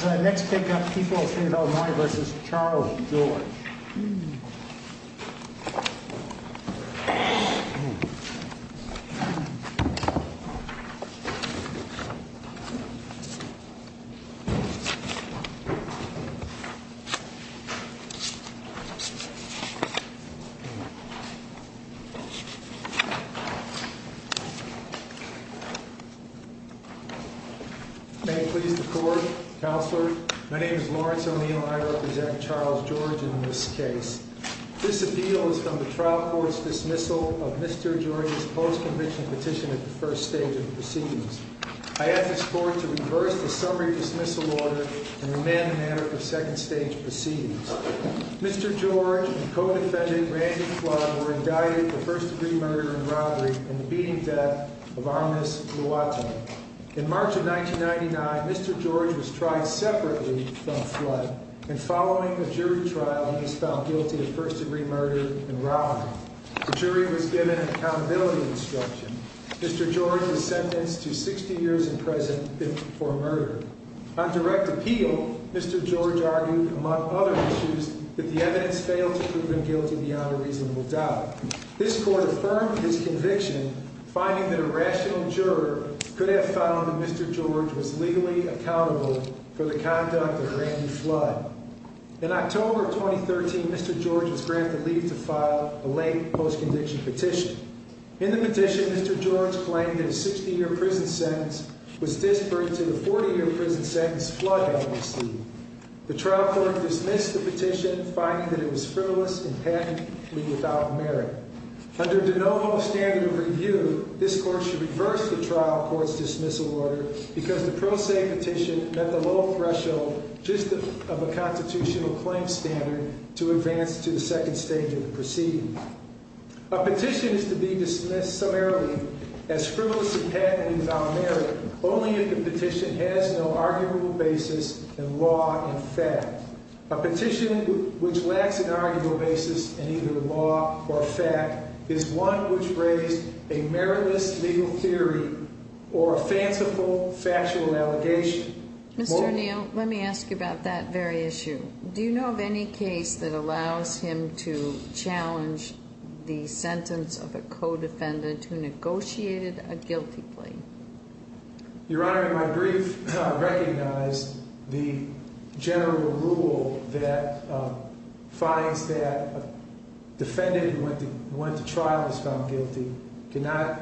Let's take up People v. Illinois v. Charles George. May it please the Court, Counselor, my name is Lawrence O'Neill and I represent Charles George in this case. This appeal is from the trial court's dismissal of Mr. George's post-conviction petition at the first stage of proceedings. I ask this Court to reverse the summary dismissal order and remand the matter for second stage proceedings. Mr. George and co-defended Randy Fludd were indicted for first-degree murder and robbery and the beating death of Amnese Luote. In March of 1999, Mr. George was tried separately from Fludd, and following a jury trial, he was found guilty of first-degree murder and robbery. The jury was given accountability instruction. Mr. George was sentenced to 60 years in prison for murder. On direct appeal, Mr. George argued, among other issues, that the evidence failed to prove him guilty beyond a reasonable doubt. This Court affirmed his conviction, finding that a rational juror could have found that Mr. George was legally accountable for the conduct of Randy Fludd. In October of 2013, Mr. George was granted leave to file a late post-conviction petition. In the petition, Mr. George claimed that a 60-year prison sentence was disparate to the 40-year prison sentence Fludd had received. The trial court dismissed the petition, finding that it was frivolous and patently without merit. Under de novo standard of review, this Court should reverse the trial court's dismissal order because the pro se petition met the low threshold just of a constitutional claim standard to advance to the second stage of the proceeding. A petition is to be dismissed summarily as frivolous and patently without merit only if the petition has no arguable basis in law and fact. A petition which lacks an arguable basis in either law or fact is one which raised a meriless legal theory or a fanciful factual allegation. Mr. O'Neill, let me ask you about that very issue. Do you know of any case that allows him to challenge the sentence of a co-defendant who negotiated a guilty plea? Your Honor, in my brief, I recognized the general rule that finds that a defendant who went to trial and was found guilty cannot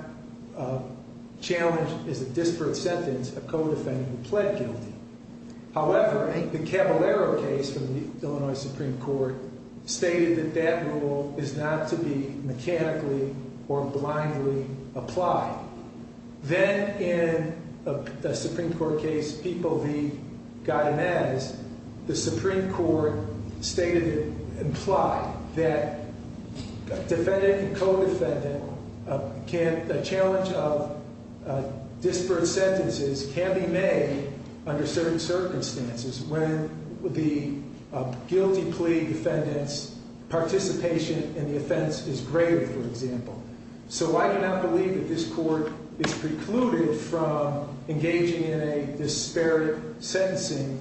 challenge as a disparate sentence a co-defendant who pled guilty. However, the Caballero case from the Illinois Supreme Court stated that that rule is not to be mechanically or blindly applied. Then, in the Supreme Court case, People v. Guy Mazz, the Supreme Court stated and implied that defendant and co-defendant, a challenge of disparate sentences can be made under certain circumstances when the guilty plea defendant's participation in the offense is greater, for example. So I do not believe that this Court is precluded from engaging in a disparate sentencing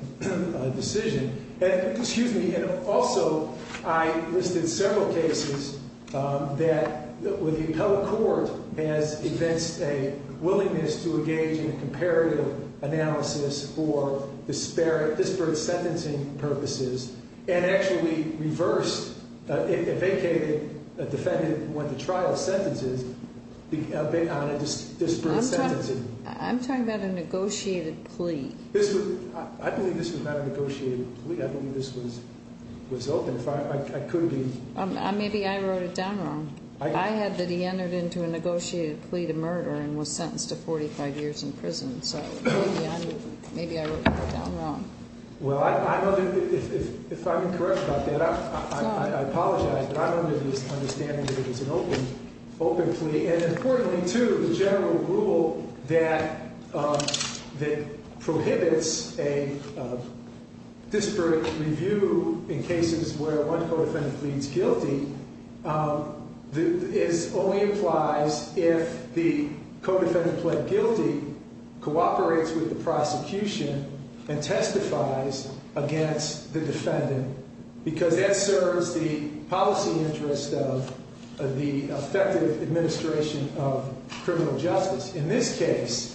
decision. And also, I listed several cases where the appellate court has evinced a willingness to engage in a comparative analysis for disparate sentencing purposes and actually reversed a vacated defendant when the trial sentence is based on a disparate sentencing. I'm talking about a negotiated plea. I believe this was not a negotiated plea. I believe this was open. I could be. Maybe I wrote it down wrong. I had that he entered into a negotiated plea to murder and was sentenced to 45 years in prison. So maybe I wrote that down wrong. Well, if I'm incorrect about that, I apologize. But I'm under the understanding that it was an open plea. And importantly, too, the general rule that prohibits a disparate review in cases where one co-defendant pleads guilty only implies if the co-defendant pled guilty, cooperates with the prosecution, and testifies against the defendant. Because that serves the policy interest of the effective administration of criminal justice. In this case,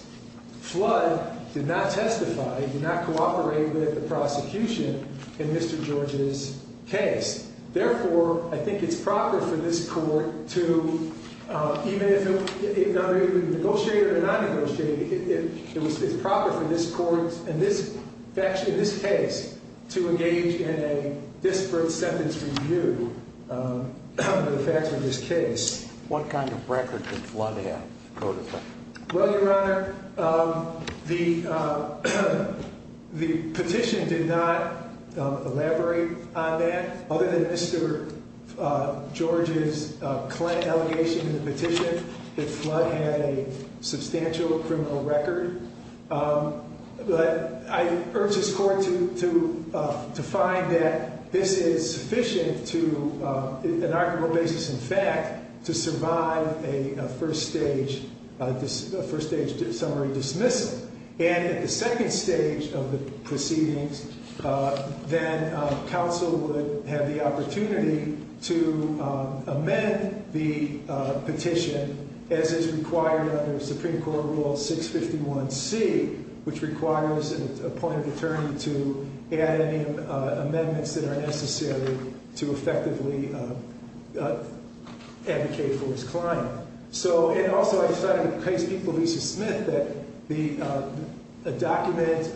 Flood did not testify, did not cooperate with the prosecution in Mr. George's case. Therefore, I think it's proper for this court to, even if it was negotiated or not negotiated, it's proper for this court, in this case, to engage in a disparate sentence review for the facts of this case. What kind of record did Flood have, co-defendant? Well, Your Honor, the petition did not elaborate on that. Other than Mr. George's Clinton allegation in the petition, that Flood had a substantial criminal record. But I urge this court to find that this is sufficient to, on an arguable basis, in fact, to survive a first stage summary dismissal. And at the second stage of the proceedings, then counsel would have the opportunity to amend the petition as is required under Supreme Court Rule 651C, which requires an appointed attorney to add any amendments that are necessary to effectively advocate for his client. So, and also, I decided with case people Lisa Smith that the document,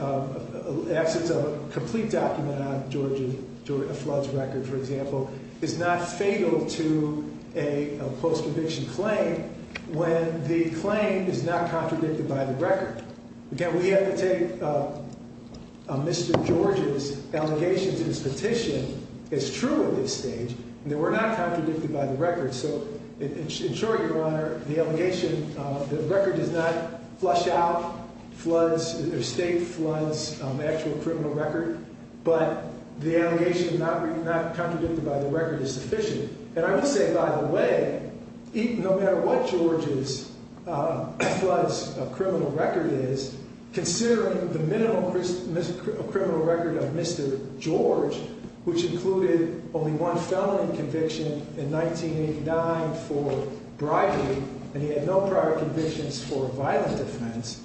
absence of a complete document on George and Flood's record, for example, is not fatal to a post-conviction claim when the claim is not contradicted by the record. Again, we have to take Mr. George's allegation to this petition as true at this stage, and that we're not contradicted by the record. So, in short, Your Honor, the allegation, the record does not flush out Flood's, or state Flood's actual criminal record, but the allegation not contradicted by the record is sufficient. And I will say, by the way, no matter what George's Flood's criminal record is, considering the minimal criminal record of Mr. George, which included only one felony conviction in 1989 for bribery, and he had no prior convictions for violent offense,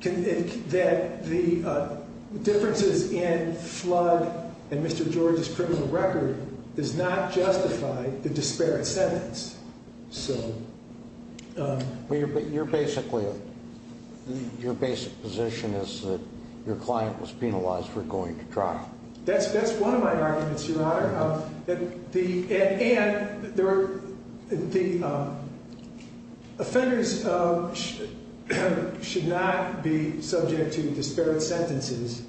that the differences in Flood and Mr. George's criminal record does not justify the disparate sentence. Your basic position is that your client was penalized for going to trial. That's one of my arguments, Your Honor. And the offenders should not be subject to disparate sentences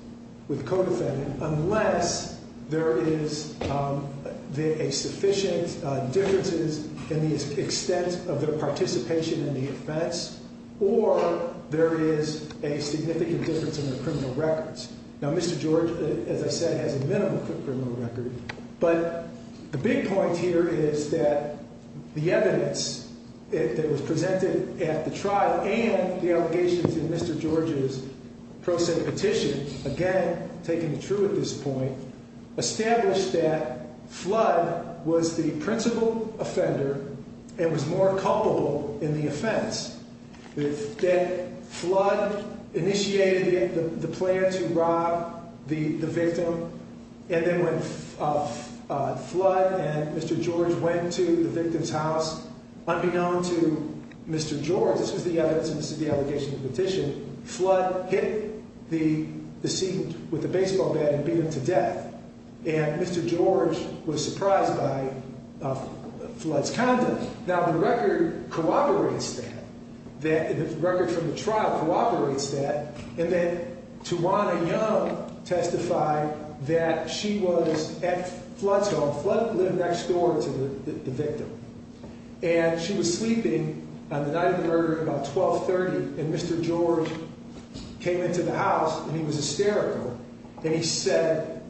with codefendant unless there is a sufficient differences in the extent of their participation in the offense or there is a significant difference in their criminal records. Now, Mr. George, as I said, has a minimal criminal record, but the big point here is that the evidence that was presented at the trial and the allegations in Mr. George's petition, again, taken true at this point, established that Flood was the principal offender and was more culpable in the offense. That Flood initiated the plan to rob the victim, and then when Flood and Mr. George went to the victim's house, unbeknown to Mr. George, this was the evidence and this is the allegation in the petition, Flood hit the decedent with a baseball bat and beat him to death. And Mr. George was surprised by Flood's conduct. Now, the record cooperates that. The record from the trial cooperates that. And then Tawana Young testified that she was at Flood's home. Flood lived next door to the victim. And she was sleeping on the night of the murder at about 12.30, and Mr. George came into the house and he was hysterical, and he said,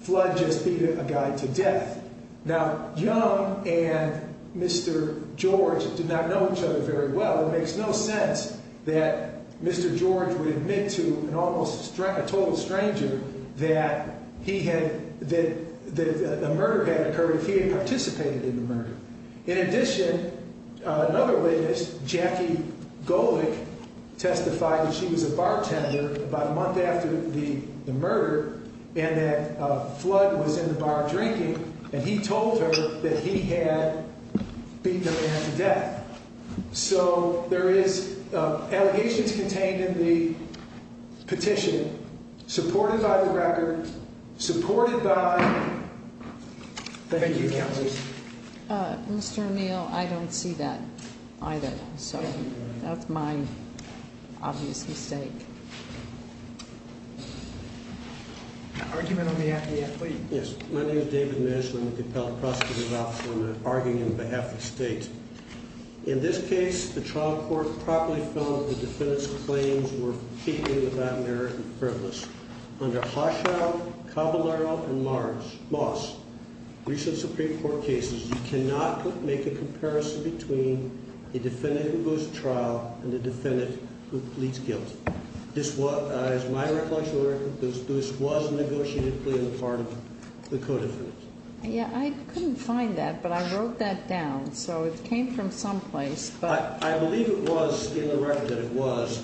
Flood just beat a guy to death. Now, Young and Mr. George did not know each other very well. It makes no sense that Mr. George would admit to an almost, a total stranger that he had, that a murder had occurred if he had participated in the murder. In addition, another witness, Jackie Golick, testified that she was a bartender about a month after the murder, and that Flood was in the bar drinking, and he told her that So there is allegations contained in the petition, supported by the record, supported by... Thank you, Counsel. Mr. O'Neill, I don't see that either, so that's my obvious mistake. Yes, my name is David Mish, and I'm with the Appellate Prosecutor's Office, and I'm arguing on behalf of the state. In this case, the trial court properly found that the defendant's claims were completely without merit and frivolous. Under Hochschild, Cavallaro, and Moss, recent Supreme Court cases, you cannot make a comparison between a defendant who goes to trial and a defendant who pleads guilt. This was, as my recollection of the record, this was a negotiated plea on the part of the co-defendant. Yeah, I couldn't find that, but I wrote that down, so it came from someplace. I believe it was in the record that it was,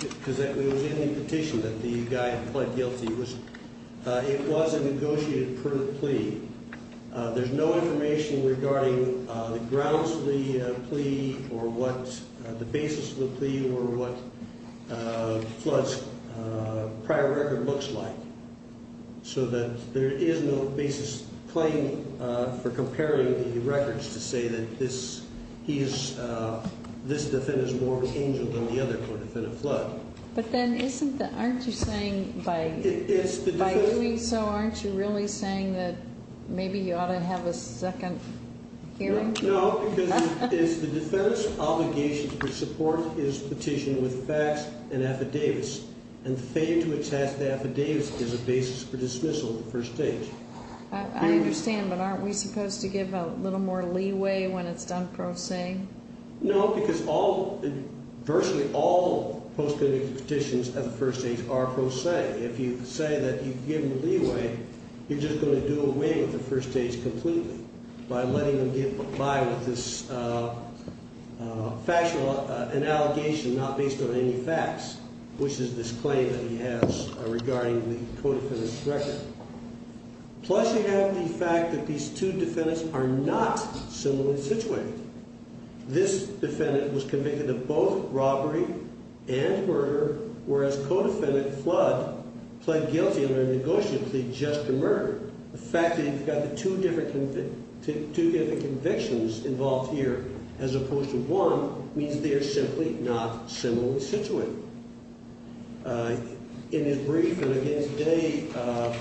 because it was in the petition that the guy had pled guilty. It was a negotiated plea. There's no information regarding the grounds of the plea, or what the basis of the plea or what Flood's prior record looks like, so that there is no basis claim for comparing the records to say that this defendant is more of an angel than the other co-defendant, Flood. But then, aren't you saying by doing so, aren't you really saying that maybe you ought to have a second hearing? No, because it's the defendant's obligation to support his petition with facts and affidavits, and failing to attest the affidavits is a basis for dismissal at the first stage. I understand, but aren't we supposed to give a little more leeway when it's done pro se? No, because virtually all post-conviction petitions at the first stage are pro se. If you say that you give them leeway, you're just going to do away with the first stage completely by letting them get by with this factual allegation not based on any facts, which is this claim that he has regarding the co-defendant's record. Plus, you have the fact that these two defendants are not similarly situated. This defendant was convicted of both robbery and murder, whereas co-defendant Flood pled guilty under a negotiated plea just to murder. The fact that you've got the two different convictions involved here as opposed to one means they are simply not similarly situated. In his brief in against Day,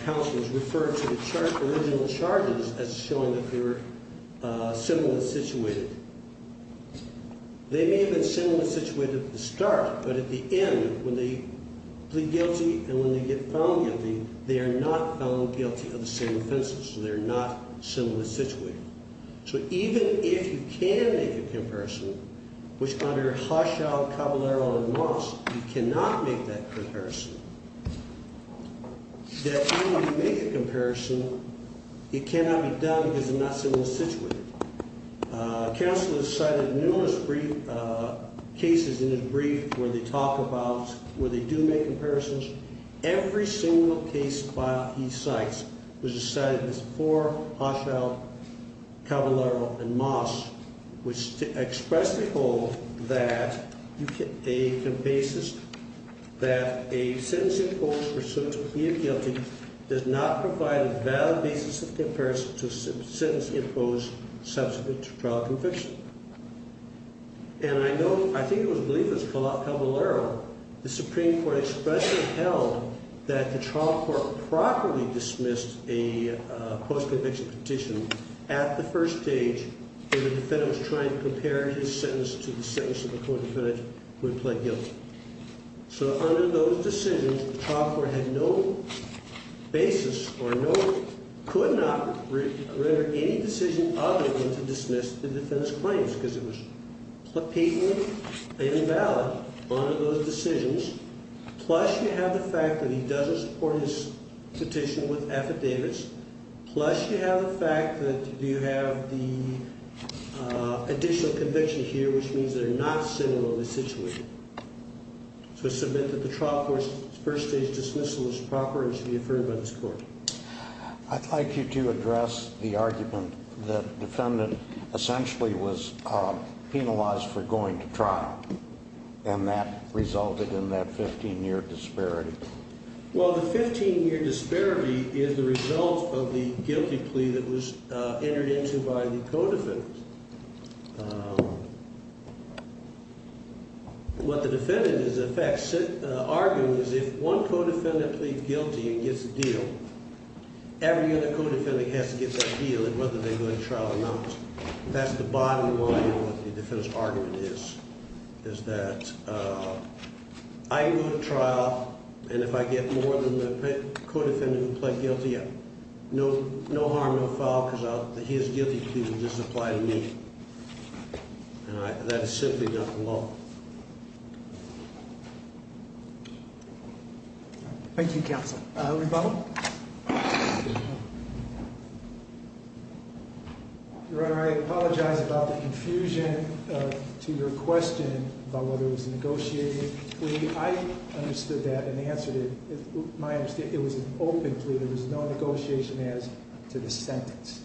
counsels referred to the original charges as showing that they were similarly situated. They may have been similarly situated at the start, but at the end, when they plead guilty and when they get found guilty, they are not found guilty of the same offenses. So they're not similarly situated. So even if you can make a comparison, which under Hushall, Caballero, and Moss, you cannot make that comparison, that when you make a comparison, it cannot be done because they're not similarly situated. Counsel has cited numerous brief cases in his brief where they talk about, where they do make comparisons. Every single case filed, he cites, which is cited in this before Hushall, Caballero, and Moss, which expressly hold that a basis that a sentence imposed for suit of plea of guilty does not provide a valid basis of comparison to a sentence imposed subsequent to trial conviction. And I know, I think it was a belief of Caballero, the Supreme Court expressly held that the trial court properly dismissed a post-conviction petition at the first stage when the defendant was trying to compare his sentence to the sentence of the co-defendant who had pled guilty. So under those decisions, the trial court had no basis or no, could not render any decision of the defendant to dismiss the defendant's claims because it was blatantly invalid under those decisions, plus you have the fact that he doesn't support his petition with affidavits, plus you have the fact that you have the additional conviction here, which means they're not similarly situated. So I submit that the trial court's first stage dismissal is proper and should be affirmed by this court. I'd like you to address the argument that the defendant essentially was penalized for going to trial and that resulted in that 15-year disparity. Well, the 15-year disparity is the result of the guilty plea that was entered into by the co-defendant. What the defendant is, in fact, arguing is if one co-defendant pleads guilty and gets a deal, every other co-defendant has to get that deal, whether they go to trial or not. That's the bottom line of what the defendant's argument is, is that I go to trial and if I get more than the co-defendant who pled guilty, no harm, no foul, because his guilty plea would just apply to me. And that is simply not the law. Thank you, counsel. Rebello? Your Honor, I apologize about the confusion to your question about whether it was a negotiated plea. I understood that and answered it. My understanding, it was an open plea. There was no negotiation as to the sentence.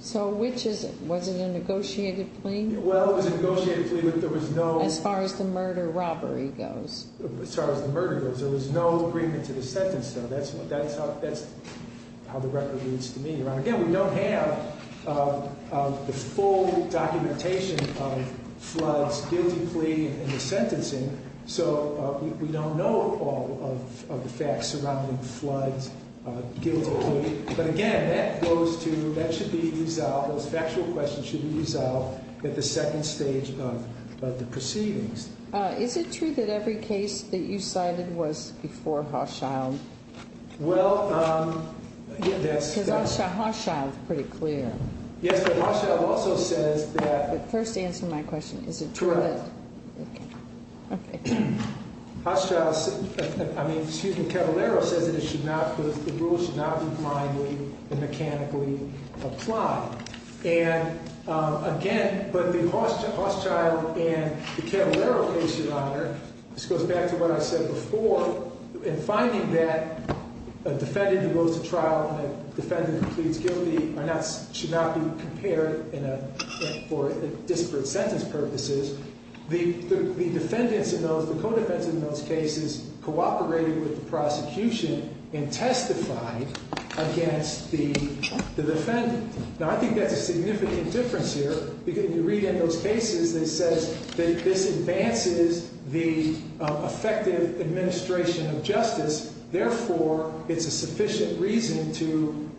So, which is it? Was it a negotiated plea? Well, it was a negotiated plea, but there was no… As far as the murder robbery goes. As far as the murder goes. There was no agreement to the sentence, though. That's how the record leads to me. Your Honor, again, we don't have the full documentation of Flood's guilty plea and the sentencing, so we don't know all of the facts surrounding Flood's guilty plea. But again, that goes to… That should be resolved. Those factual questions should be resolved at the second stage of the proceedings. Is it true that every case that you cited was before Hochschild? Well, again, that's… Because Hochschild is pretty clear. Yes, but Hochschild also says that… But first answer my question. Is it true that… Correct. Okay. Hochschild… I mean, excuse me, Cavallaro says that it should not… The rules should not be blindly and mechanically applied. And again… But the Hochschild and the Cavallaro cases, Your Honor… This goes back to what I said before. In finding that a defendant who goes to trial and a defendant who pleads guilty are not… Should not be compared for disparate sentence purposes. The defendants in those… The co-defendants in those cases cooperated with the prosecution and testified against the defendant. Now, I think that's a significant difference here. Because you read in those cases, it says that this advances the effective administration of justice. Therefore, it's a sufficient reason to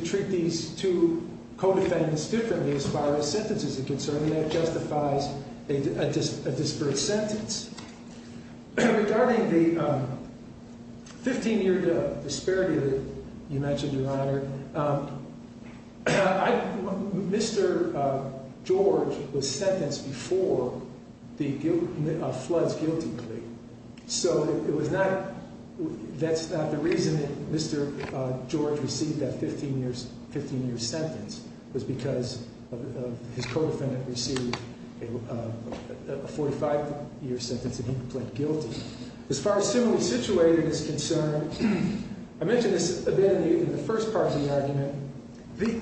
treat these two co-defendants differently as far as sentences are concerned. And that justifies a disparate sentence. Regarding the 15-year disparity that you mentioned, Your Honor, Mr. George was sentenced before the floods guilty plea. So it was not… That's not the reason that Mr. George received that 15-year sentence. It was because his co-defendant received a 45-year sentence and he pleaded guilty. As far as similarly situated is concerned, I mentioned this a bit in the first part of the argument. The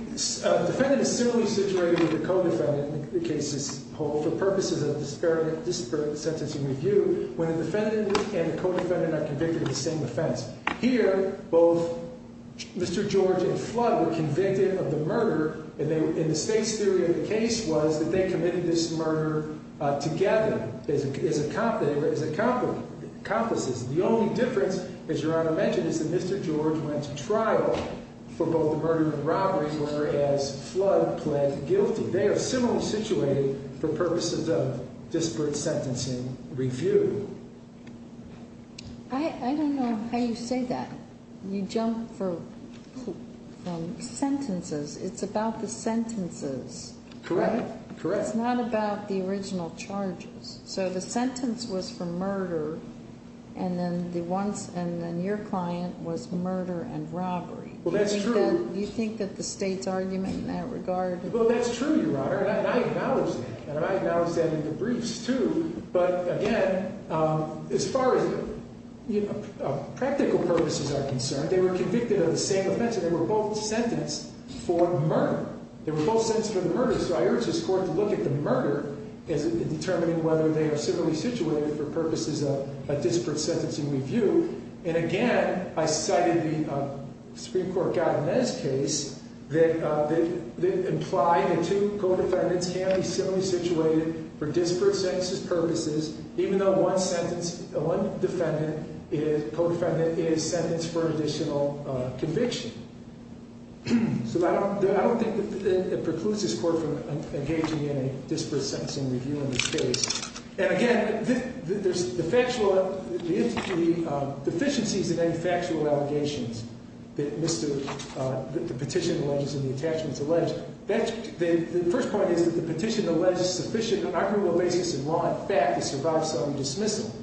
defendant is similarly situated with the co-defendant in the case as a whole for purposes of disparate sentencing review. When the defendant and the co-defendant are convicted of the same offense. Here, both Mr. George and Flood were convicted of the murder. And the state's theory of the case was that they committed this murder together as accomplices. The only difference, as Your Honor mentioned, is that Mr. George went to trial for both the murder and robbery, whereas Flood pled guilty. They are similarly situated for purposes of disparate sentencing review. I don't know how you say that. You jump from sentences. It's about the sentences. Correct. It's not about the original charges. So the sentence was for murder and then your client was murder and robbery. Well, that's true. Do you think that the state's argument in that regard… Well, that's true, Your Honor, and I acknowledge that. And I acknowledge that in the briefs, too. But, again, as far as practical purposes are concerned, they were convicted of the same offense and they were both sentenced for murder. They were both sentenced for the murder. So I urge this Court to look at the murder in determining whether they are similarly situated for purposes of disparate sentencing review. And, again, I cited the Supreme Court Gavinez case that implied that two co-defendants can be similarly situated for disparate sentences purposes, even though one defendant, co-defendant, is sentenced for additional conviction. So I don't think it precludes this Court from engaging in a disparate sentencing review in this case. And, again, the deficiencies in any factual allegations that the petition alleges and the attachments allege, the first point is that the petition alleges sufficient argumental basis in law and fact to survive some dismissal.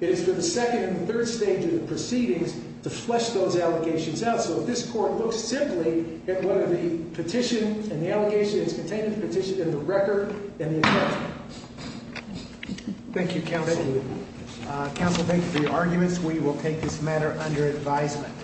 It is for the second and third stage of the proceedings to flesh those allegations out. So this Court looks simply at whether the petition and the allegation is contained in the petition and the record and the attachment. Thank you, Counsel. Thank you. Counsel, thank you for your arguments. We will take this matter under advisement.